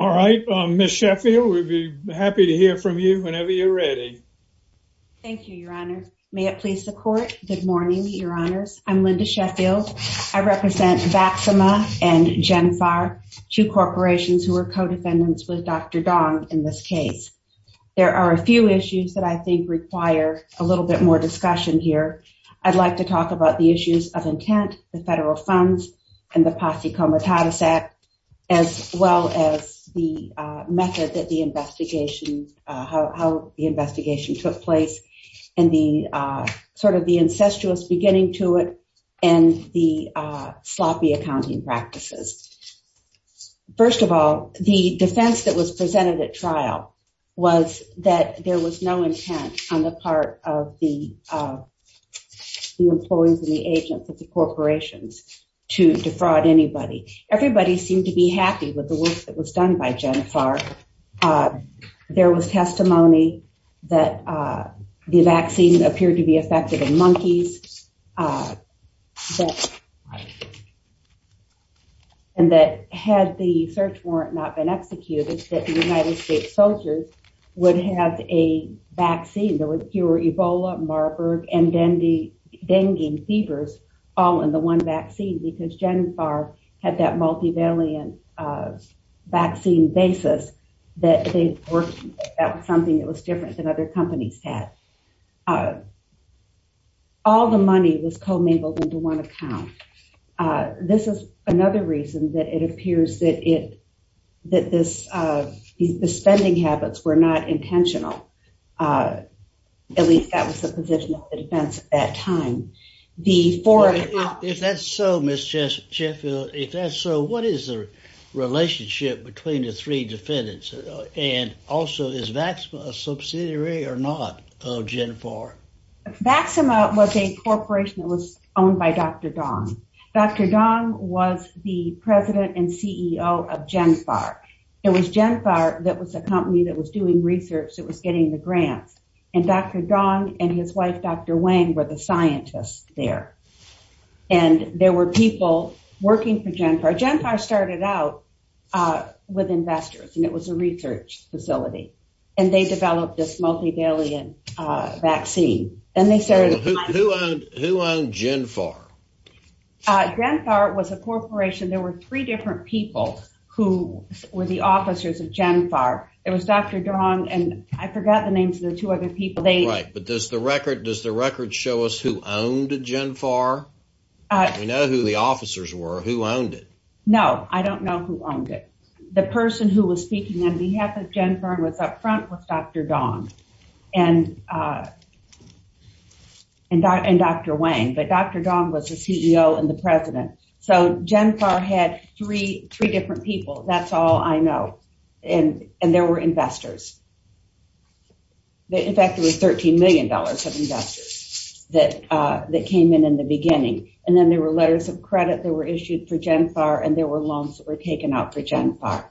All right, Ms. Sheffield, we'd be happy to hear from you whenever you're ready. Thank you, Your Honor. May it please the Court. Good morning, Your Honors. I'm Linda Sheffield. I represent Vaxima and Genfar, two corporations who are co-defendants with Dr. Dong in this case. There are a few issues that I think require a little bit more discussion here. I'd like to talk about the issues of intent, the as well as the method that the investigation, how the investigation took place, and the sort of the incestuous beginning to it, and the sloppy accounting practices. First of all, the defense that was presented at trial was that there was no intent on the part of the employees and the agents of the agency to be happy with the work that was done by Genfar. There was testimony that the vaccine appeared to be effective in monkeys, and that had the search warrant not been executed, that the United States soldiers would have a vaccine. There were Ebola, Marburg, and dengue fevers all in the one vaccine, because Genfar had that multivalent vaccine basis that they worked at something that was different than other companies had. All the money was co-mingled into one account. This is another reason that it appears that it that this, the spending habits were not intentional. At least that was the position of the defense at that time. If that's so, Ms. Chetfield, if that's so, what is the relationship between the three defendants, and also is Vaxima a subsidiary or not of Genfar? Vaxima was a corporation that was owned by Dr. Dong. Dr. Dong was the president and CEO of Genfar. It was Genfar that was a company that was doing research, that was getting the grants, and Dr. Dong and his wife, Dr. Wang, were the scientists there. And there were people working for Genfar. Genfar started out with investors, and it was a research facility, and they developed this multivalent vaccine. And they started... Who owned Genfar? Genfar was a corporation. There were three different people who were the officers of Genfar. It was Dr. Dong, and I forgot the names of the two other people. Right, but does the record show us who owned Genfar? We know who the officers were. Who owned it? No, I don't know who owned it. The person who was speaking on behalf of Genfar and was up front was Dr. Dong and Dr. Wang, but Dr. Dong was the CEO and the president. So Genfar had three different people. That's all I know. And there were investors. In fact, there were $13 million of investors that came in in the beginning. And then there were letters of credit that were issued for Genfar, and there were loans that were taken out for Genfar.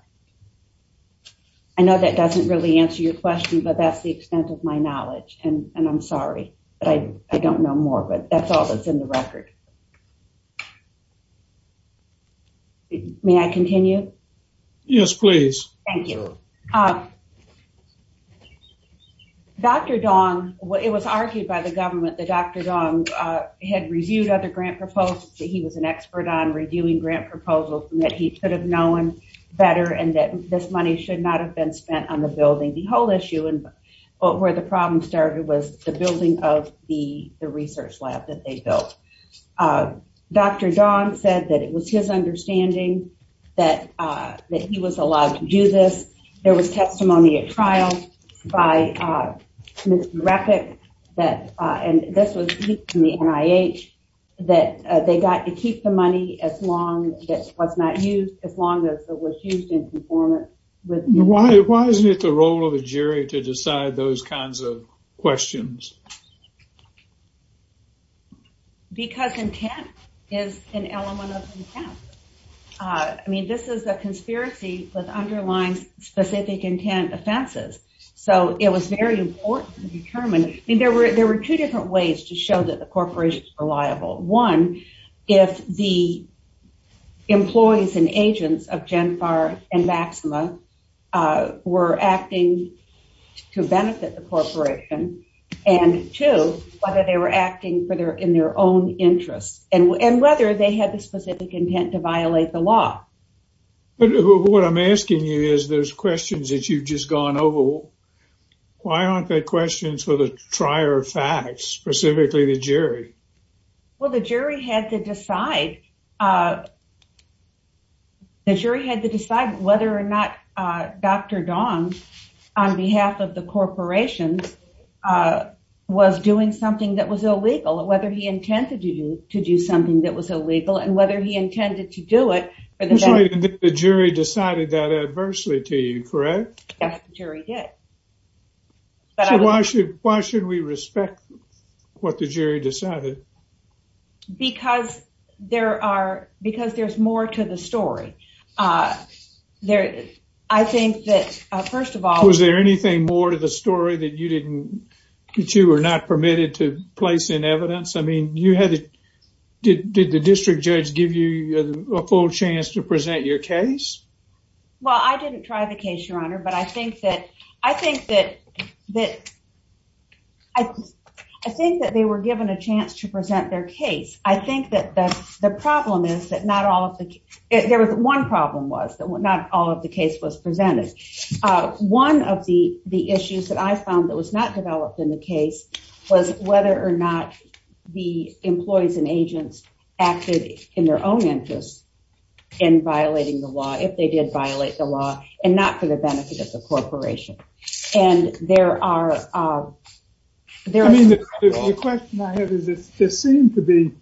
I know that doesn't really answer your question, but that's the extent of my knowledge, and I'm sorry, but I don't know more. But that's all that's in the record. May I continue? Yes, please. Thank you. Dr. Dong, it was argued by the government that Dr. Dong had reviewed other grant proposals, that he was an expert on reviewing grant proposals, and that he could have known better, and that this money should not have been spent on the building. The whole issue, and where the problem started, was the building of the research lab that they built. Dr. Dong said that it was his testimony at trial by Mr. Rapik, that, and this was in the NIH, that they got to keep the money as long as it was not used, as long as it was used in conformance with... Why isn't it the role of a jury to decide those kinds of questions? Because intent is an element of intent. I mean, this is a conspiracy with underlying specific intent offenses, so it was very important to determine. I mean, there were two different ways to show that the corporations were liable. One, if the employees and agents of Genfar and Maxima were acting to benefit the corporation, and two, whether they were acting in their own interests, and whether they had the specific intent to violate the law. But what I'm asking you is, those questions that you've just gone over, why aren't they questions for the trier of facts, specifically the jury? Well, the jury had to decide. The jury had to decide whether or not Dr. Dong, on behalf of the corporations, was doing something that was illegal, or whether he intended to do something that was illegal, and whether he intended to do it. The jury decided that adversely to you, correct? Yes, the jury did. So, why should we respect what the jury decided? Because there are... Because there's more to the story. I think that, first of all... Was there anything more to the story that you didn't... that you were not permitted to place in evidence? I mean, you had... Did the district judge give you a full chance to present your case? Well, I didn't try the case, Your Honor, but I think that... I think that... I think that they were given a chance to present their case. I think that the problem is that not all of the... There was one problem was that not all of the case was presented. One of the issues that I found that was not developed in the case was whether or not the employees and agents acted in their own interest in violating the law, if they did violate the law, and not for the benefit of the corporation. And there are... I mean, the question I have is this seemed to be...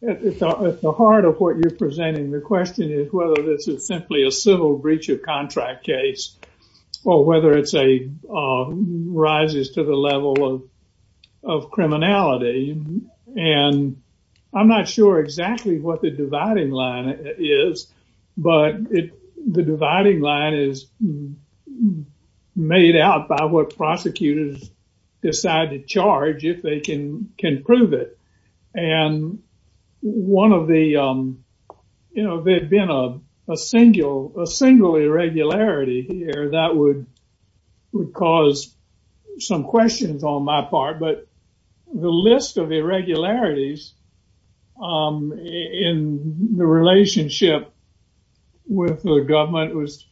At the heart of what you're presenting, the question is whether this is simply a civil breach of contract case, or whether it's a... Rises to the level of criminality. And I'm not sure exactly what the dividing line is, but the dividing line is made out by what prosecutors decide to charge if they can prove it. And one of the... You know, there had been a single irregularity here that would cause some questions on my part, but the list of irregularities in the relationship with the government was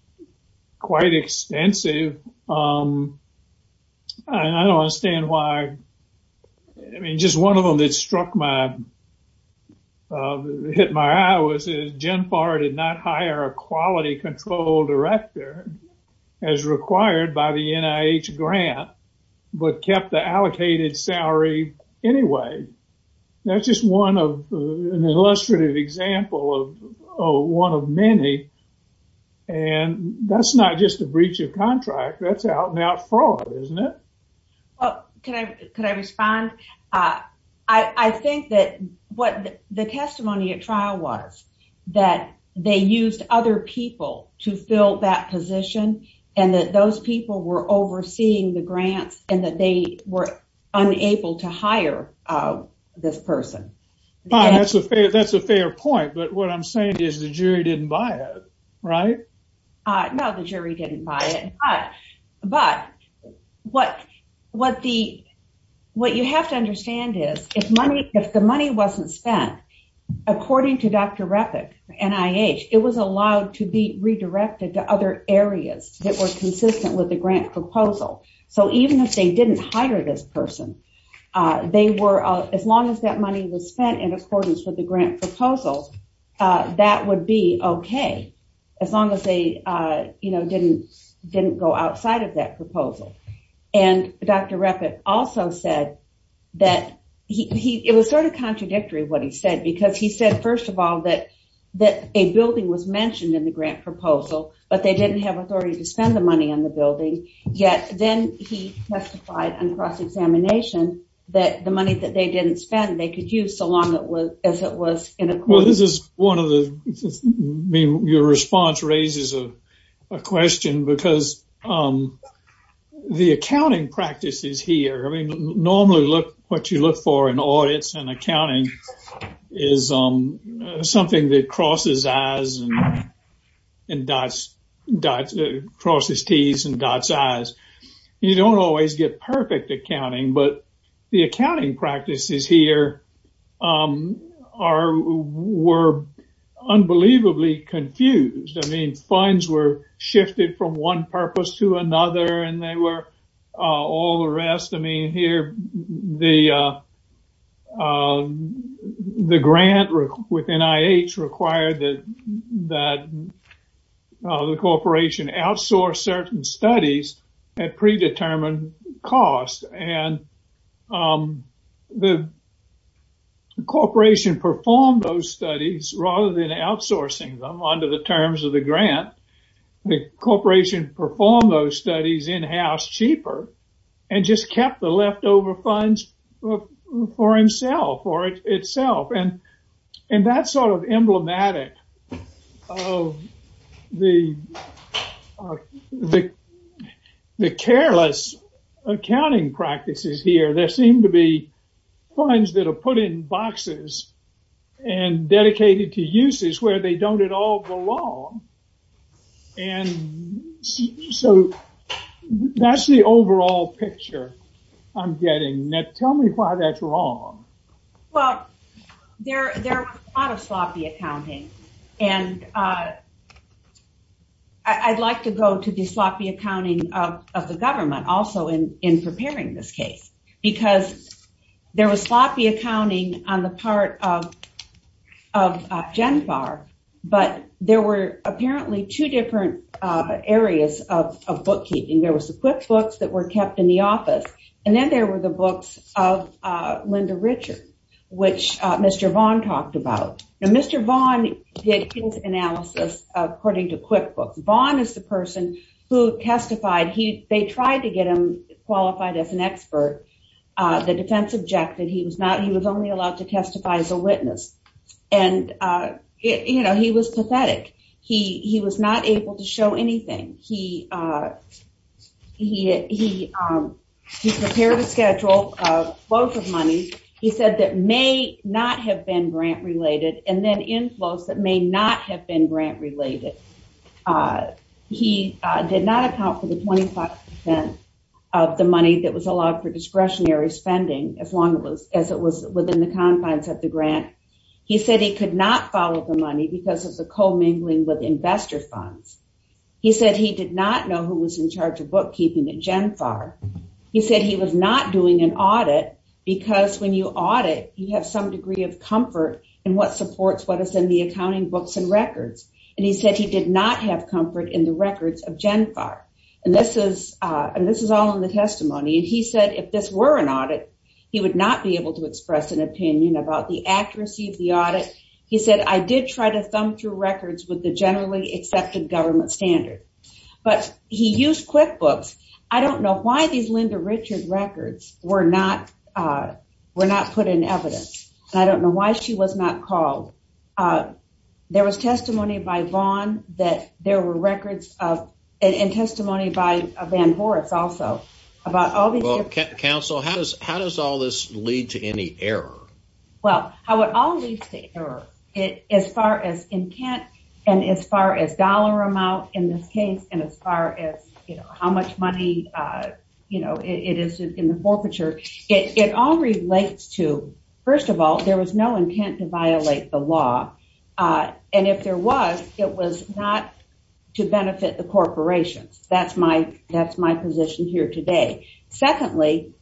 quite extensive. And I don't understand why... I mean, just one of them that struck my... Hit my eye was that GenPAR did not hire a quality control director as required by the NIH grant, but kept the allocated salary anyway. That's just one of... An illustrative example of one of many. And that's not just a breach of contract, that's out-and-out fraud, isn't it? Well, can I respond? I think that what the testimony at trial was, that they used other people to fill that position, and that those people were overseeing the grants, and that they were unable to hire this person. Bob, that's a fair point, but what I'm saying is the jury didn't buy it, right? No, the jury didn't buy it, but what you have to understand is if the money wasn't spent, according to Dr. Repik, NIH, it was allowed to be redirected to other areas that were consistent with the grant proposal. So even if they didn't hire this person, they were... As long as that money was spent in the grant proposal, it didn't go outside of that proposal. And Dr. Repik also said that... It was sort of contradictory, what he said, because he said, first of all, that a building was mentioned in the grant proposal, but they didn't have authority to spend the money on the building. Yet, then he testified on cross-examination that the money that they didn't spend, they could use so long as it was in accordance... Well, this is one of the... Your response raises a question, because the accounting practices here... I mean, normally, what you look for in audits and accounting is something that crosses I's and crosses T's and dots I's. You don't always get perfect accounting, but the accounting practices here were unbelievably confused. I mean, funds were shifted from one purpose to another, and they were... All the rest... I mean, here, the grant with NIH required that the corporation outsource certain studies at predetermined cost, and the corporation performed those studies rather than outsourcing them under the terms of the grant. The corporation performed those studies in-house cheaper and just kept the leftover funds for himself or itself. And that's sort of emblematic of the careless accounting practices here. There seem to be funds that are put in boxes and dedicated to uses where they don't at all belong, and so that's the overall picture I'm getting. Now, tell me why that's wrong. Well, there was a lot of sloppy accounting, and I'd like to go to the sloppy accounting of the government also in preparing this case, because there was sloppy accounting on the part of GenFAR, but there were apparently two different areas of bookkeeping. There was the QuickBooks that were kept in office, and then there were the books of Linda Richard, which Mr. Vaughn talked about. Now, Mr. Vaughn did his analysis according to QuickBooks. Vaughn is the person who testified. They tried to get him qualified as an expert. The defense objected. He was only allowed to testify as a witness, and he was prepared to schedule both of money, he said, that may not have been grant related, and then inflows that may not have been grant related. He did not account for the 25% of the money that was allowed for discretionary spending as long as it was within the confines of the grant. He said he could not follow the money because of the commingling with investor funds. He said he did not know who was in charge of bookkeeping at GenFAR. He said he was not doing an audit because when you audit, you have some degree of comfort in what supports what is in the accounting books and records. And he said he did not have comfort in the records of GenFAR. And this is all in the testimony. And he said if this were an audit, he would not be able to express an opinion about the accuracy of the audit. He said, I did try to thumb through records with the accepted government standard. But he used QuickBooks. I don't know why these Linda Richard records were not put in evidence. I don't know why she was not called. There was testimony by Vaughn that there were records of, and testimony by Van Horace also, about all these. Well, Counsel, how does all this lead to any error? Well, how it all leads to error. As far as intent, and as far as dollar amount in this case, and as far as how much money it is in the forfeiture, it all relates to, first of all, there was no intent to violate the law. And if there was, it was not to benefit the corporations. That's my position here Secondly,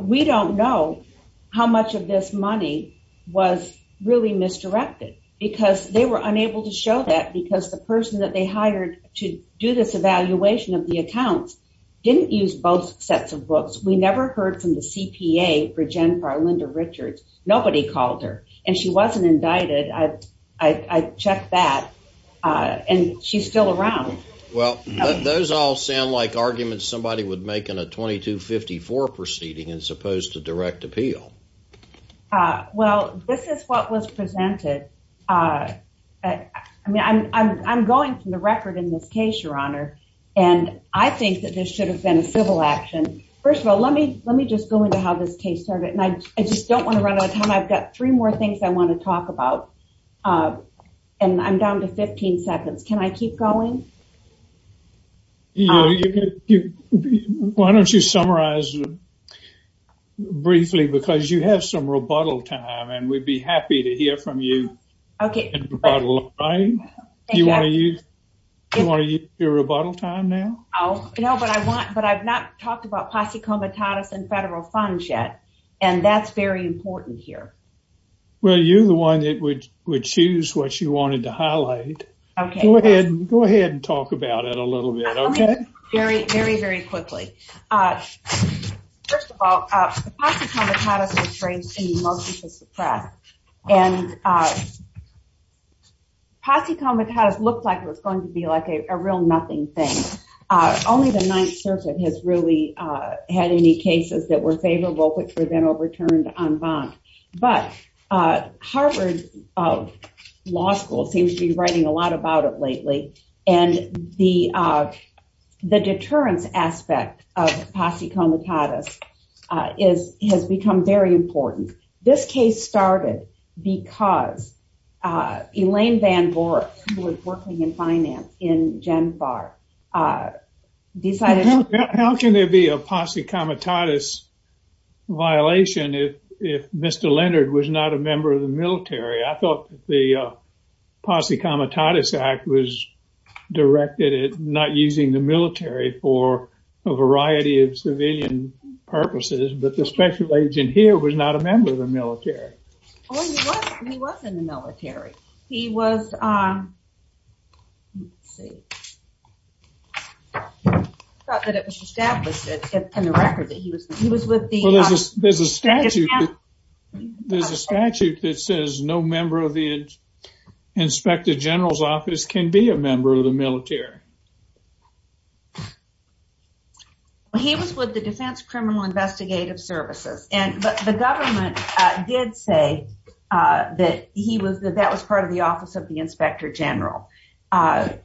we don't know how much of this money was really misdirected. Because they were unable to show that because the person that they hired to do this evaluation of the accounts didn't use both sets of books. We never heard from the CPA for GenFAR, Linda Richards. Nobody called her. And she wasn't indicted. I checked that. And she's still around. Well, those all sound like arguments somebody would make in a 2254 proceeding as opposed to direct appeal. Well, this is what was presented. I mean, I'm going from the record in this case, Your Honor. And I think that this should have been a civil action. First of all, let me just go into how this case started. And I just don't want to run out of time. I've got three more things I want to talk about. Uh, and I'm down to 15 seconds. Can I keep going? Why don't you summarize briefly, because you have some rebuttal time and we'd be happy to hear from you. Okay. Do you want to use your rebuttal time now? Oh, no, but I want but I've not talked about posse comitatus and federal funds yet. And that's very important here. Well, you're the one that would would choose what you wanted to highlight. Go ahead and talk about it a little bit. Okay. Very, very, very quickly. First of all, posse comitatus was phrased in multiple suppress. And posse comitatus looked like it was going to be like a real nothing thing. Only the Ninth Circuit has really had any cases that were returned en banc. But Harvard Law School seems to be writing a lot about it lately. And the the deterrence aspect of posse comitatus is has become very important. This case started because Elaine Van Vork, who was working in finance in GenFAR, decided... violation if if Mr. Leonard was not a member of the military. I thought the posse comitatus act was directed at not using the military for a variety of civilian purposes, but the special agent here was not a member of the military. He was in the military. He was... Let's see. I thought that it was established in the record that he was, he was with the... Well, there's a statute that says no member of the Inspector General's office can be a member of the military. He was with the Defense Criminal Investigative Services. And the government did say that he was that that was part of the Office of the Inspector General. But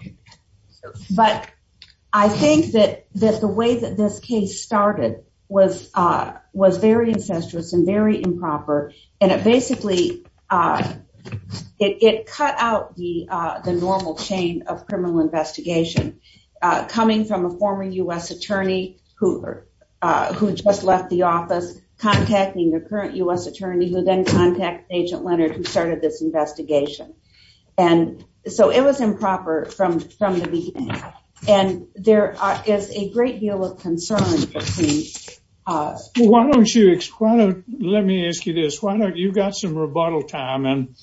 I think that that the way that this case started was, was very incestuous and very improper. And it basically, it cut out the, the normal chain of criminal investigation, coming from a former US attorney who, who just left the office, contacting the current US attorney who then contact Agent Leonard who started this investigation. And so it was improper from, from the beginning. And there is a great deal of concern between... Why don't you explain, let me ask you this, why don't you got some rebuttal time and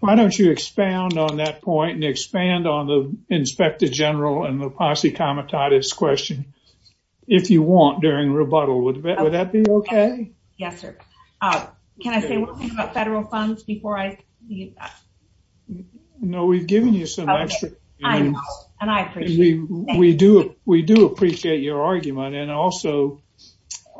why don't you expand on that point and expand on the Inspector General and the posse comitatus question, if you want during rebuttal, would that be okay? Yes, sir. Can I say one thing about federal funds before I leave? No, we've given you some extra. And I appreciate it. We do, we do appreciate your argument. And also,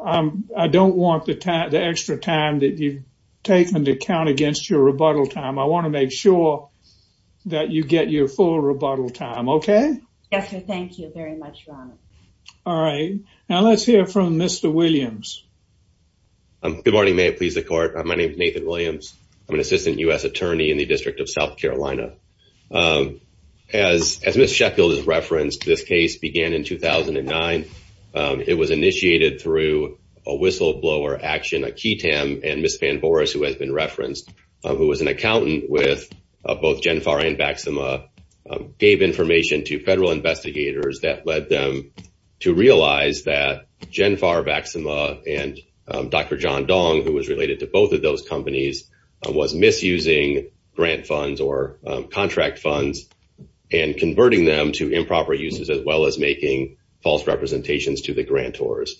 I don't want the time, the extra time that you've taken to count against your rebuttal time. I want to make sure that you get your full rebuttal time. Okay. Yes, sir. Thank you very much, Ron. All right. Now let's hear from Mr. Williams. Good morning, may it please the court. My name is Nathan Williams. I'm an Assistant U.S. Attorney in the District of South Carolina. As Ms. Sheffield has referenced, this case began in 2009. It was initiated through a whistleblower action, a key TAM, and Ms. Van Boris, who has been referenced, who was an accountant with both Genfar and Vaxima, gave information to federal who was related to both of those companies, was misusing grant funds or contract funds, and converting them to improper uses, as well as making false representations to the grantors.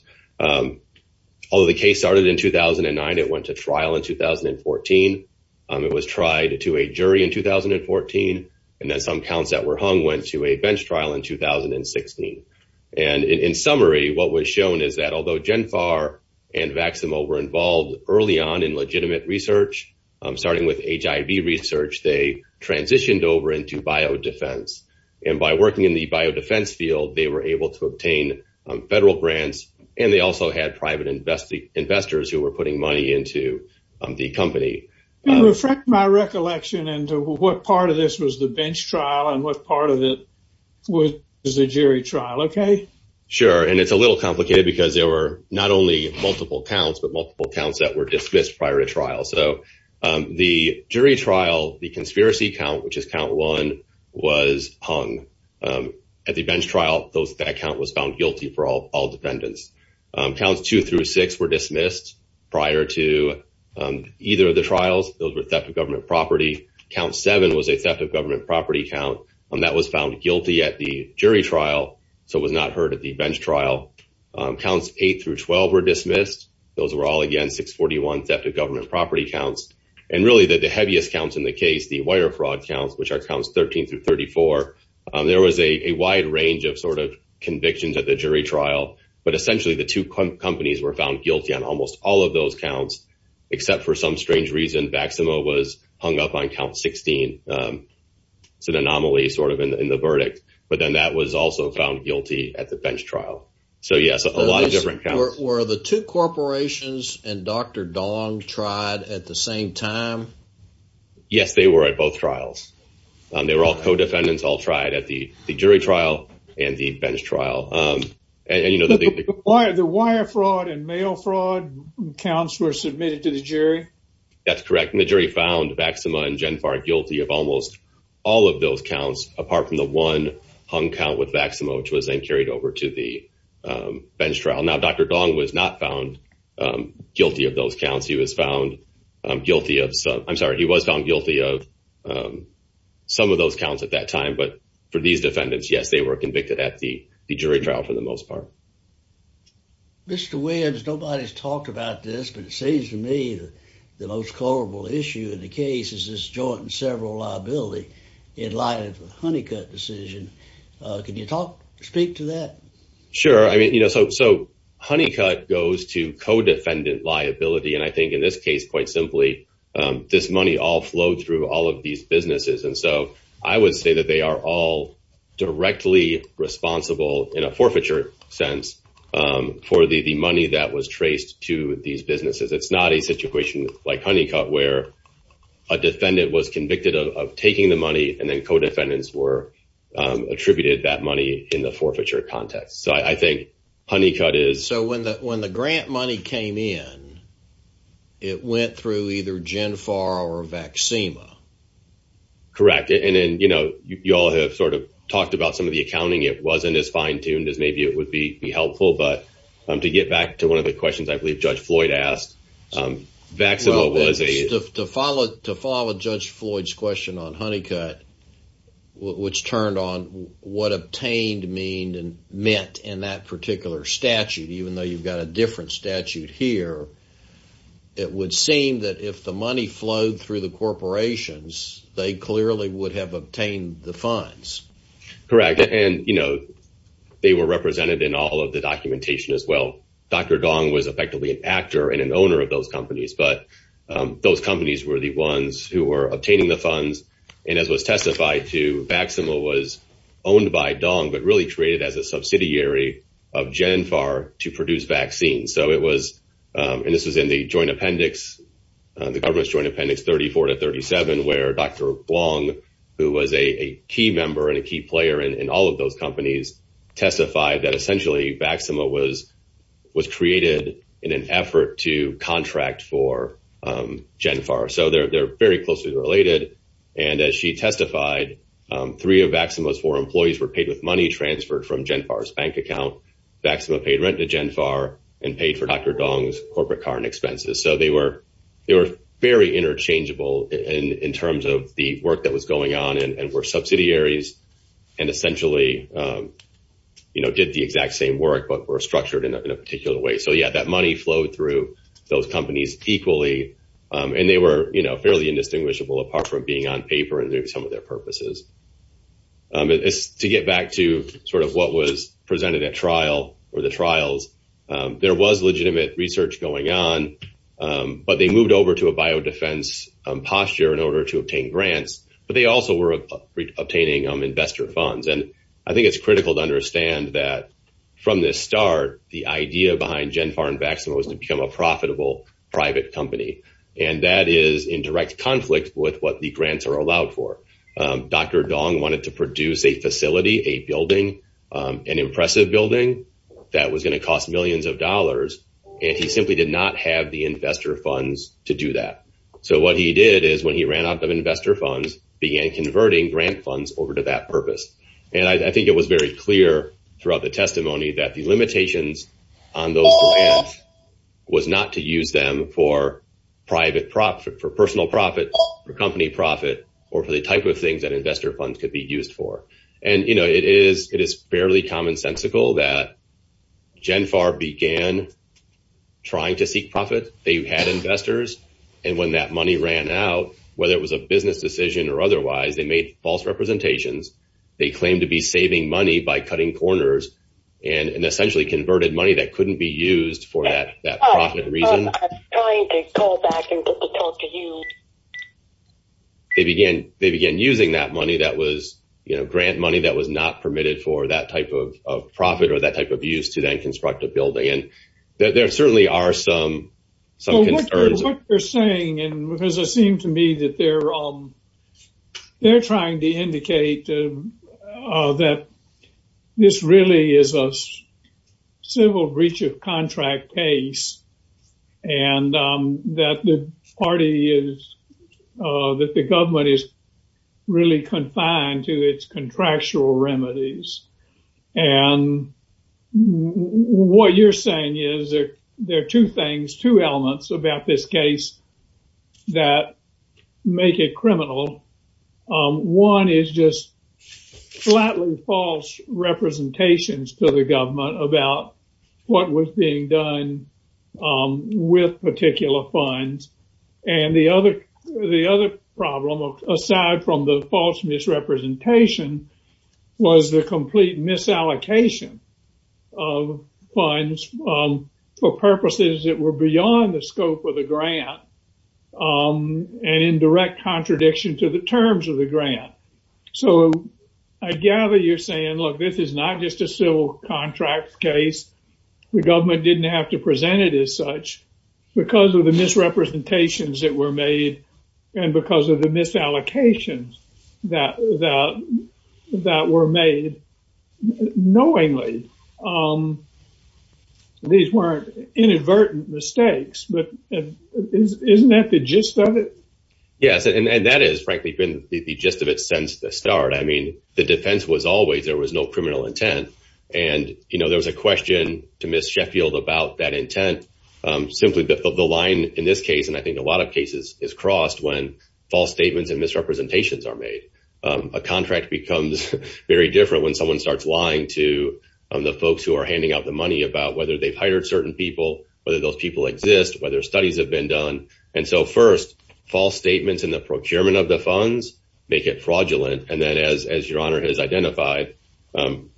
Although the case started in 2009, it went to trial in 2014. It was tried to a jury in 2014. And then some counts that were hung went to a bench trial in 2016. And in summary, what was shown is that although Genfar and Vaxima were involved early on in legitimate research, starting with HIV research, they transitioned over into biodefense. And by working in the biodefense field, they were able to obtain federal grants, and they also had private investors who were putting money into the company. Reflect my recollection into what part of this was the bench trial and what part of it was the jury trial, okay? Sure. And it's a little complicated because there were not only multiple counts, but multiple counts that were dismissed prior to trial. So the jury trial, the conspiracy count, which is count one, was hung. At the bench trial, that count was found guilty for all defendants. Counts two through six were dismissed prior to either of the trials. Those were theft of government property. Count seven was a theft of government property count, and that was found guilty at the jury trial, so it was not heard at the bench trial. Counts eight through 12 were dismissed. Those were all, again, 641 theft of government property counts. And really, the heaviest counts in the case, the wire fraud counts, which are counts 13 through 34, there was a wide range of sort of convictions at the jury trial. But essentially, the two companies were found guilty on almost all of those counts, except for some strange reason. Vaxima was hung up on count 16. It's an anomaly sort of in the verdict. But then that was also found guilty at the bench trial. So yes, a lot of different counts. Were the two corporations and Dr. Dong tried at the same time? Yes, they were at both trials. They were all co-defendants all tried at the jury trial and the bench trial. The wire fraud and mail fraud counts were submitted to the jury? That's correct. And the jury found Vaxima and Genfar guilty of almost all of those counts, apart from the one hung count with Vaxima, which was then carried over to the bench trial. Now, Dr. Dong was not found guilty of those counts. He was found guilty of some, I'm sorry, he was found guilty of some of those counts at that time. But for these defendants, yes, they were convicted at the jury trial for the most part. Mr. Williams, nobody's talked about this, but it seems to me the most culpable issue in the case is this joint and several liability in light of the Honeycutt decision. Can you speak to that? Sure. I mean, so Honeycutt goes to co-defendant liability. And I think in this case, quite simply, this money all flowed through all of these businesses. And so I would say that they are all cents for the money that was traced to these businesses. It's not a situation like Honeycutt, where a defendant was convicted of taking the money and then co-defendants were attributed that money in the forfeiture context. So I think Honeycutt is- So when the grant money came in, it went through either Genfar or Vaxima? Correct. And then you all have sort of talked about some of the accounting. It wasn't as it would be helpful, but to get back to one of the questions I believe Judge Floyd asked, Vaxima was a- Well, to follow Judge Floyd's question on Honeycutt, which turned on what obtained meant in that particular statute, even though you've got a different statute here, it would seem that if the money flowed through the corporations, they clearly would have obtained the funds. Correct. And they were represented in all of the documentation as well. Dr. Dong was effectively an actor and an owner of those companies, but those companies were the ones who were obtaining the funds. And as was testified to, Vaxima was owned by Dong, but really created as a subsidiary of Genfar to produce vaccines. So it was, and this was in the joint appendix, the government's joint appendix 34 to 37, where Dr. Blong, who was a key member and a key player in all of those companies, testified that essentially Vaxima was created in an effort to contract for Genfar. So they're very closely related. And as she testified, three of Vaxima's four employees were paid with money transferred from Genfar's bank account. Vaxima paid rent to they were very interchangeable in terms of the work that was going on and were subsidiaries and essentially did the exact same work, but were structured in a particular way. So yeah, that money flowed through those companies equally. And they were fairly indistinguishable apart from being on paper and doing some of their purposes. To get back to sort of what was presented at trial or the trials, there was legitimate research going on, but they moved over to a biodefense posture in order to obtain grants, but they also were obtaining investor funds. And I think it's critical to understand that from this start, the idea behind Genfar and Vaxima was to become a profitable private company. And that is in direct conflict with what the grants are allowed for. Dr. Dong wanted to produce a facility, a building, an impressive building that was going to cost millions of dollars. And he simply did not have the investor funds to do that. So what he did is when he ran out of investor funds, began converting grant funds over to that purpose. And I think it was very clear throughout the testimony that the limitations on those grants was not to use them for personal profit, for company profit, or for the type of things that investor funds could be used for. And it is fairly commonsensical that Genfar began trying to seek profit. They had investors. And when that money ran out, whether it was a business decision or otherwise, they made false representations. They claimed to be saving money by cutting corners and essentially converted money that couldn't be used for that profit reason. They began using that money that was, you know, grant money that was not permitted for that type of profit or that type of use to then construct a building. And there certainly are some concerns. What you're saying, and it seems to me that they're trying to indicate that this really is a civil breach of contract case, and that the party is, that the government is really confined to its contractual remedies. And what you're saying is, there are two things, two elements about this case that make it criminal. One is just flatly false representations to the government about what was being done with particular funds. And the other problem, aside from the false misrepresentation, was the complete misallocation of funds for purposes that were beyond the scope of the grant and in direct contradiction to the terms of the grant. So, I gather you're saying, look, this is not just a civil contract case. The government didn't have to present it as such because of the misrepresentations that were made, and because of the misallocations that were made knowingly. These weren't inadvertent mistakes, but isn't that the gist of it? Yes, and that has frankly been the gist of it since the start. I mean, the defense was always there was no criminal intent. And, you know, there was a question to is crossed when false statements and misrepresentations are made. A contract becomes very different when someone starts lying to the folks who are handing out the money about whether they've hired certain people, whether those people exist, whether studies have been done. And so, first, false statements in the procurement of the funds make it fraudulent. And then as your honor has identified,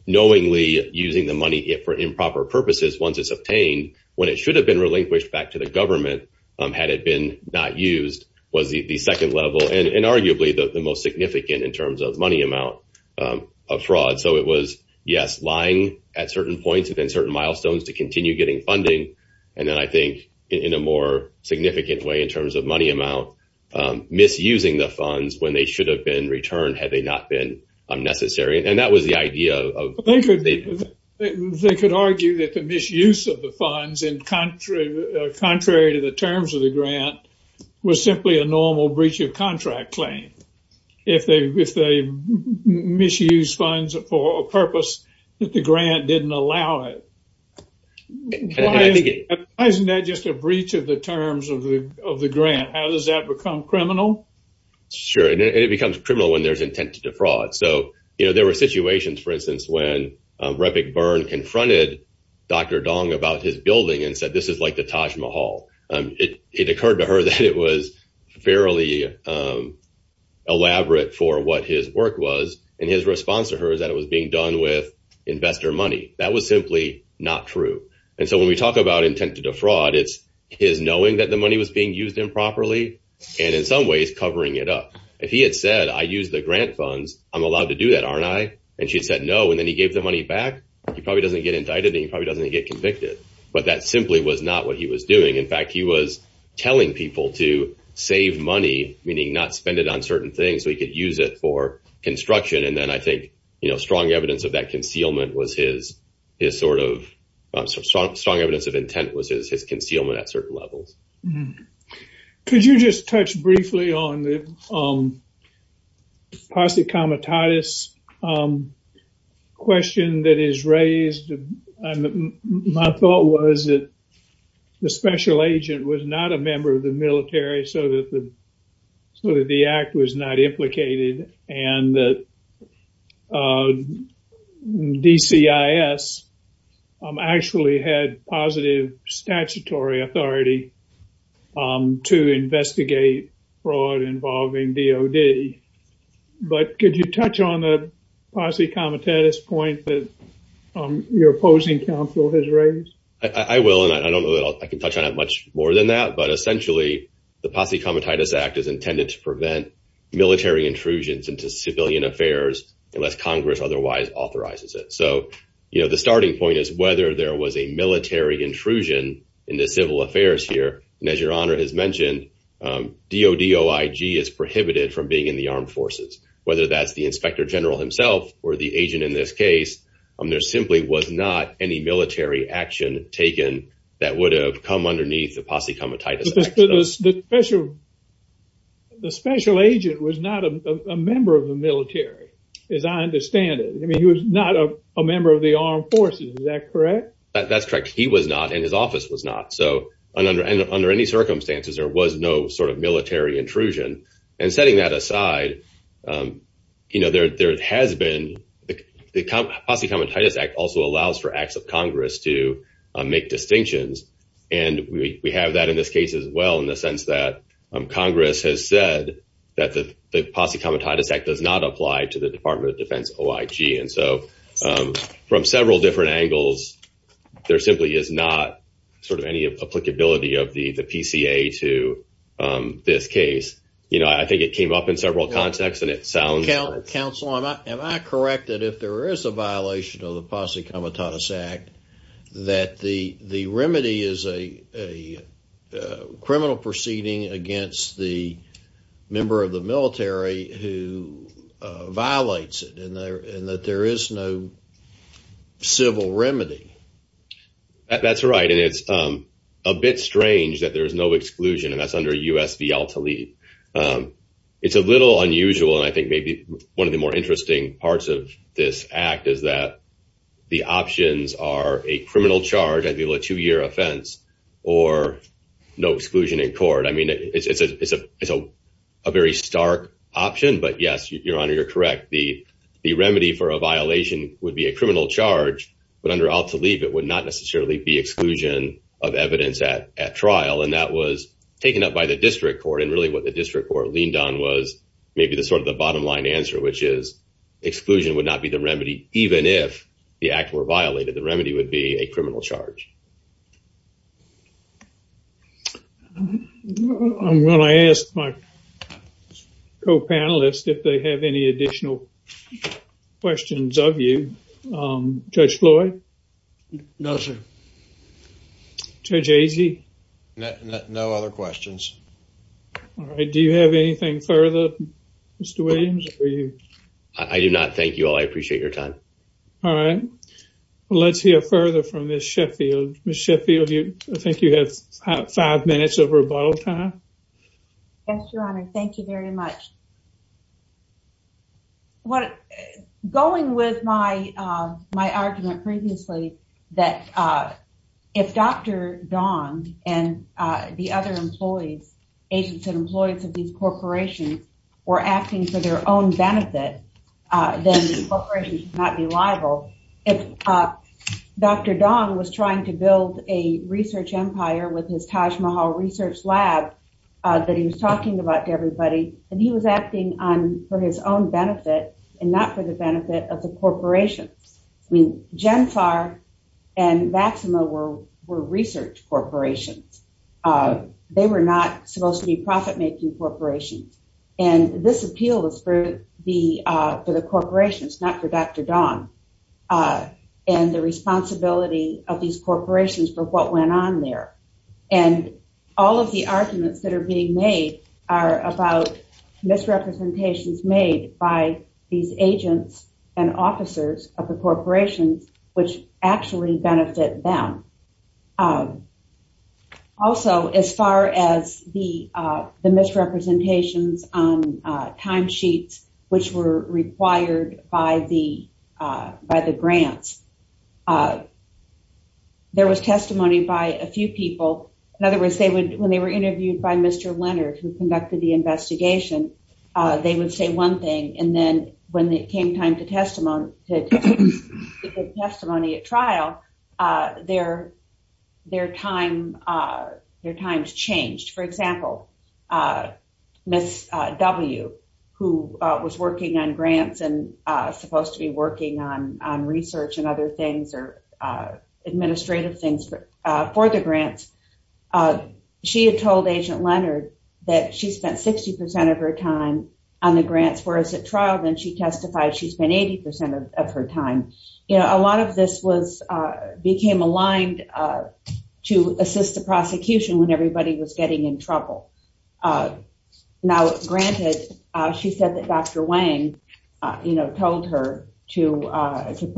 knowingly using the money for improper purposes once it's obtained, when it had been not used, was the second level and arguably the most significant in terms of money amount of fraud. So, it was, yes, lying at certain points and then certain milestones to continue getting funding. And then I think in a more significant way in terms of money amount, misusing the funds when they should have been returned had they not been necessary. And that was the idea of... They could argue that the misuse of the funds and contrary to the terms of the grant was simply a normal breach of contract claim. If they misuse funds for a purpose that the grant didn't allow it. Why isn't that just a breach of the terms of the grant? How does that become criminal? Sure. And it becomes criminal when there's intent to defraud. So, you know, there were situations, for instance, when Rep. Byrne confronted Dr. Dong about his it occurred to her that it was fairly elaborate for what his work was. And his response to her is that it was being done with investor money. That was simply not true. And so, when we talk about intent to defraud, it's his knowing that the money was being used improperly and in some ways covering it up. If he had said, I use the grant funds, I'm allowed to do that, aren't I? And she said, no. And then he gave the money back. He probably doesn't get indicted and he probably doesn't get convicted. But that simply was not what he was doing. In fact, he was telling people to save money, meaning not spend it on certain things so he could use it for construction. And then I think, you know, strong evidence of that concealment was his sort of strong evidence of intent was his concealment at certain levels. Could you just touch briefly on the Comitatus question that is raised? My thought was that the special agent was not a member of the military so that the act was not implicated and that DCIS actually had positive statutory authority to investigate fraud involving DOD. But could you touch on the Posse Comitatus point that your opposing counsel has raised? I will and I don't know that I can touch on it much more than that. But essentially, the Posse Comitatus Act is intended to prevent military intrusions into civilian affairs unless Congress otherwise authorizes it. So, you know, the starting point is whether there was a military intrusion into civil affairs here. And as your honor has mentioned, DOD OIG is prohibited from being in the armed forces, whether that's the inspector general himself or the agent in this case. There simply was not any military action taken that would have come underneath the Posse Comitatus Act. The special agent was not a member of the military, as I understand it. I mean, he was not a member of the armed forces. Is that correct? That's correct. He was not and his office was not. So under any circumstances, there was no sort of military intrusion. And setting that aside, you know, there has been the Posse Comitatus Act also allows for acts of Congress to make distinctions. And we have that in this case as well, in the sense that Congress has said that the Posse Comitatus Act does not apply to the Department of Defense OIG. And so from several different angles, there simply is not sort of any applicability of the PCA to this case. You know, I think it came up in several contexts and it sounds... Counsel, am I correct that if there is a violation of the Posse Comitatus Act, that the remedy is a criminal proceeding against the member of the military who violates it and that there is no civil remedy? That's right. And it's a bit strange that there is no exclusion and that's under U.S. v. Al-Talib. It's a little unusual and I think maybe one of the interesting parts of this act is that the options are a criminal charge, ideally a two-year offense, or no exclusion in court. I mean, it's a very stark option, but yes, Your Honor, you're correct. The remedy for a violation would be a criminal charge, but under Al-Talib, it would not necessarily be exclusion of evidence at trial. And that was taken up by the district court. And really what the district court leaned on was maybe the sort of the bottom line answer, which is exclusion would not be the remedy, even if the act were violated. The remedy would be a criminal charge. I'm going to ask my co-panelists if they have any additional questions of you. Judge Floyd? No, sir. Judge Agee? No other questions. All right. Do you have anything further, Mr. Williams? I do not. Thank you all. I appreciate your time. All right. Let's hear further from Ms. Sheffield. Ms. Sheffield, I think you have five minutes of rebuttal time. Yes, Your Honor. Thank you very much. Going with my argument previously, that if Dr. Dong and the other employees, agents and employees of these corporations, were acting for their own benefit, then the corporation could not be liable. If Dr. Dong was trying to build a research empire with his Taj Mahal research lab that he was talking about to everybody, and he was acting for his own benefit and not for the benefit of the corporations. I mean, Genfar and Maxima were research corporations. They were not supposed to be profit-making corporations. And this appeal was for the corporations, not for Dr. Dong, and the responsibility of these corporations for what went on there. And all of the arguments that are being made are about misrepresentations made by these agents and officers of the corporations, which actually benefit them. Also, as far as the misrepresentations on timesheets, which were required by the grants, there was testimony by a few people. In other words, when they were interviewed by Mr. Leonard, who conducted the investigation, they would say one thing, and then when it came time to testimony at trial, their times changed. For example, Ms. W., who was working on grants and supposed to be research and other things or administrative things for the grants, she had told Agent Leonard that she spent 60 percent of her time on the grants, whereas at trial, then she testified she spent 80 percent of her time. A lot of this became aligned to assist the prosecution when everybody was getting in trouble. Now, granted, she said that Dr. Wang told her to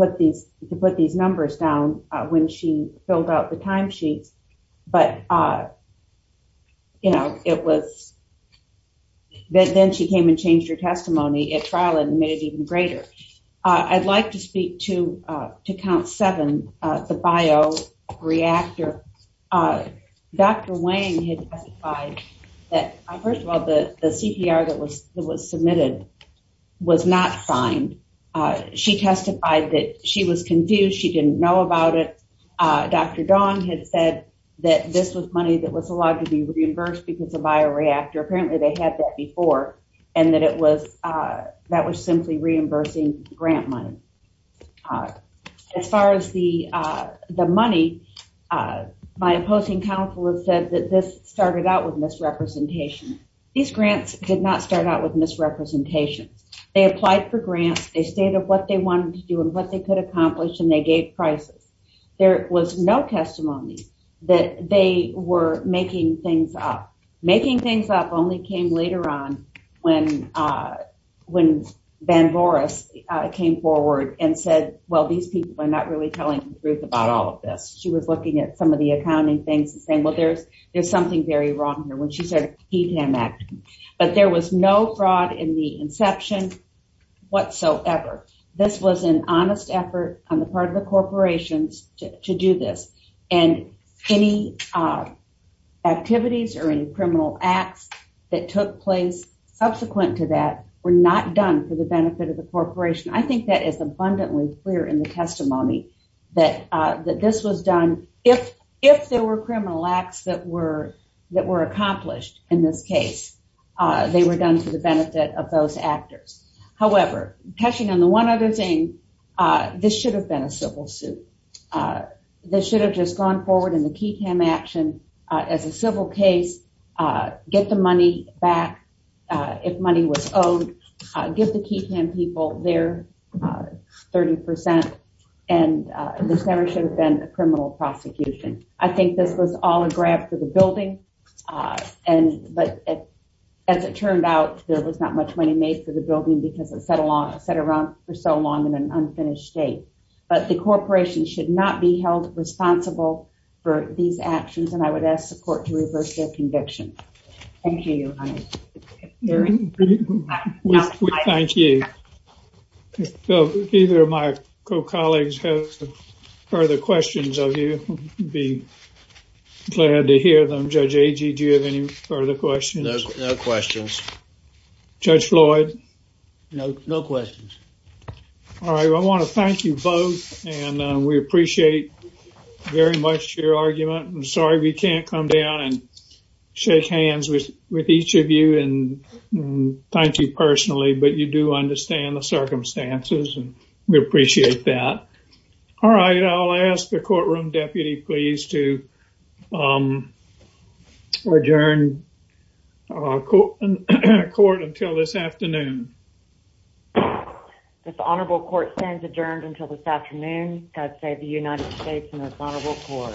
put these numbers down when she filled out the timesheets, but then she came and changed her testimony at trial and made it even greater. I'd like to speak to Count 7, the bioreactor. Dr. Wang had testified that, first of all, the CPR that was submitted was not signed. She testified that she was confused. She didn't know about it. Dr. Dawn had said that this was money that was allowed to be reimbursed because of bioreactor. Apparently, they had that before, and that was simply reimbursing grant money. As far as the money, my opposing counsel had said that this started out with misrepresentation. These grants did not start out with misrepresentation. They applied for grants. They stated what they wanted to do and what they could accomplish, and they gave prices. There was no testimony that they were making things up. Making things up only came later on when Van Boris came forward and said, well, these people are not really telling the truth about all of this. She was looking at some of the accounting things and saying, well, there's something very wrong here, when she said a PTAM act, but there was no fraud in the inception whatsoever. This was an honest effort on the part of the corporations to do this, and any activities or any criminal acts that took place subsequent to that were not done for the benefit of the corporation. I think that is abundantly clear in the testimony that this was done. If there were criminal acts that were accomplished in this case, they were done for the benefit of those actors. However, catching on the one other thing, this should have been a civil suit. This should have just gone forward in the PTAM action as a civil case, get the money back if money was owed, give the PTAM people their 30%, and this never should have been a criminal prosecution. I think this was all a grab for the building, but as it turned out, there was not much money made for the building because it sat around for so long in an unfinished state. But the corporation should not be held responsible for these actions, and I would ask the court to reverse their conviction. Thank you, Your Honor. Thank you. If either of my co-colleagues have further questions of you, I'd be glad to hear them. Judge Agee, do you have any further questions? No questions. Judge Floyd? No questions. All right, well, I want to thank you both, and we appreciate very much your argument. I'm sorry we can't come down and shake hands with each of you and thank you personally, but you do understand the circumstances, and we appreciate that. All right, I'll ask the courtroom deputy please to adjourn court until this afternoon. This honorable court stands adjourned until this afternoon. God save the United States and this honorable court.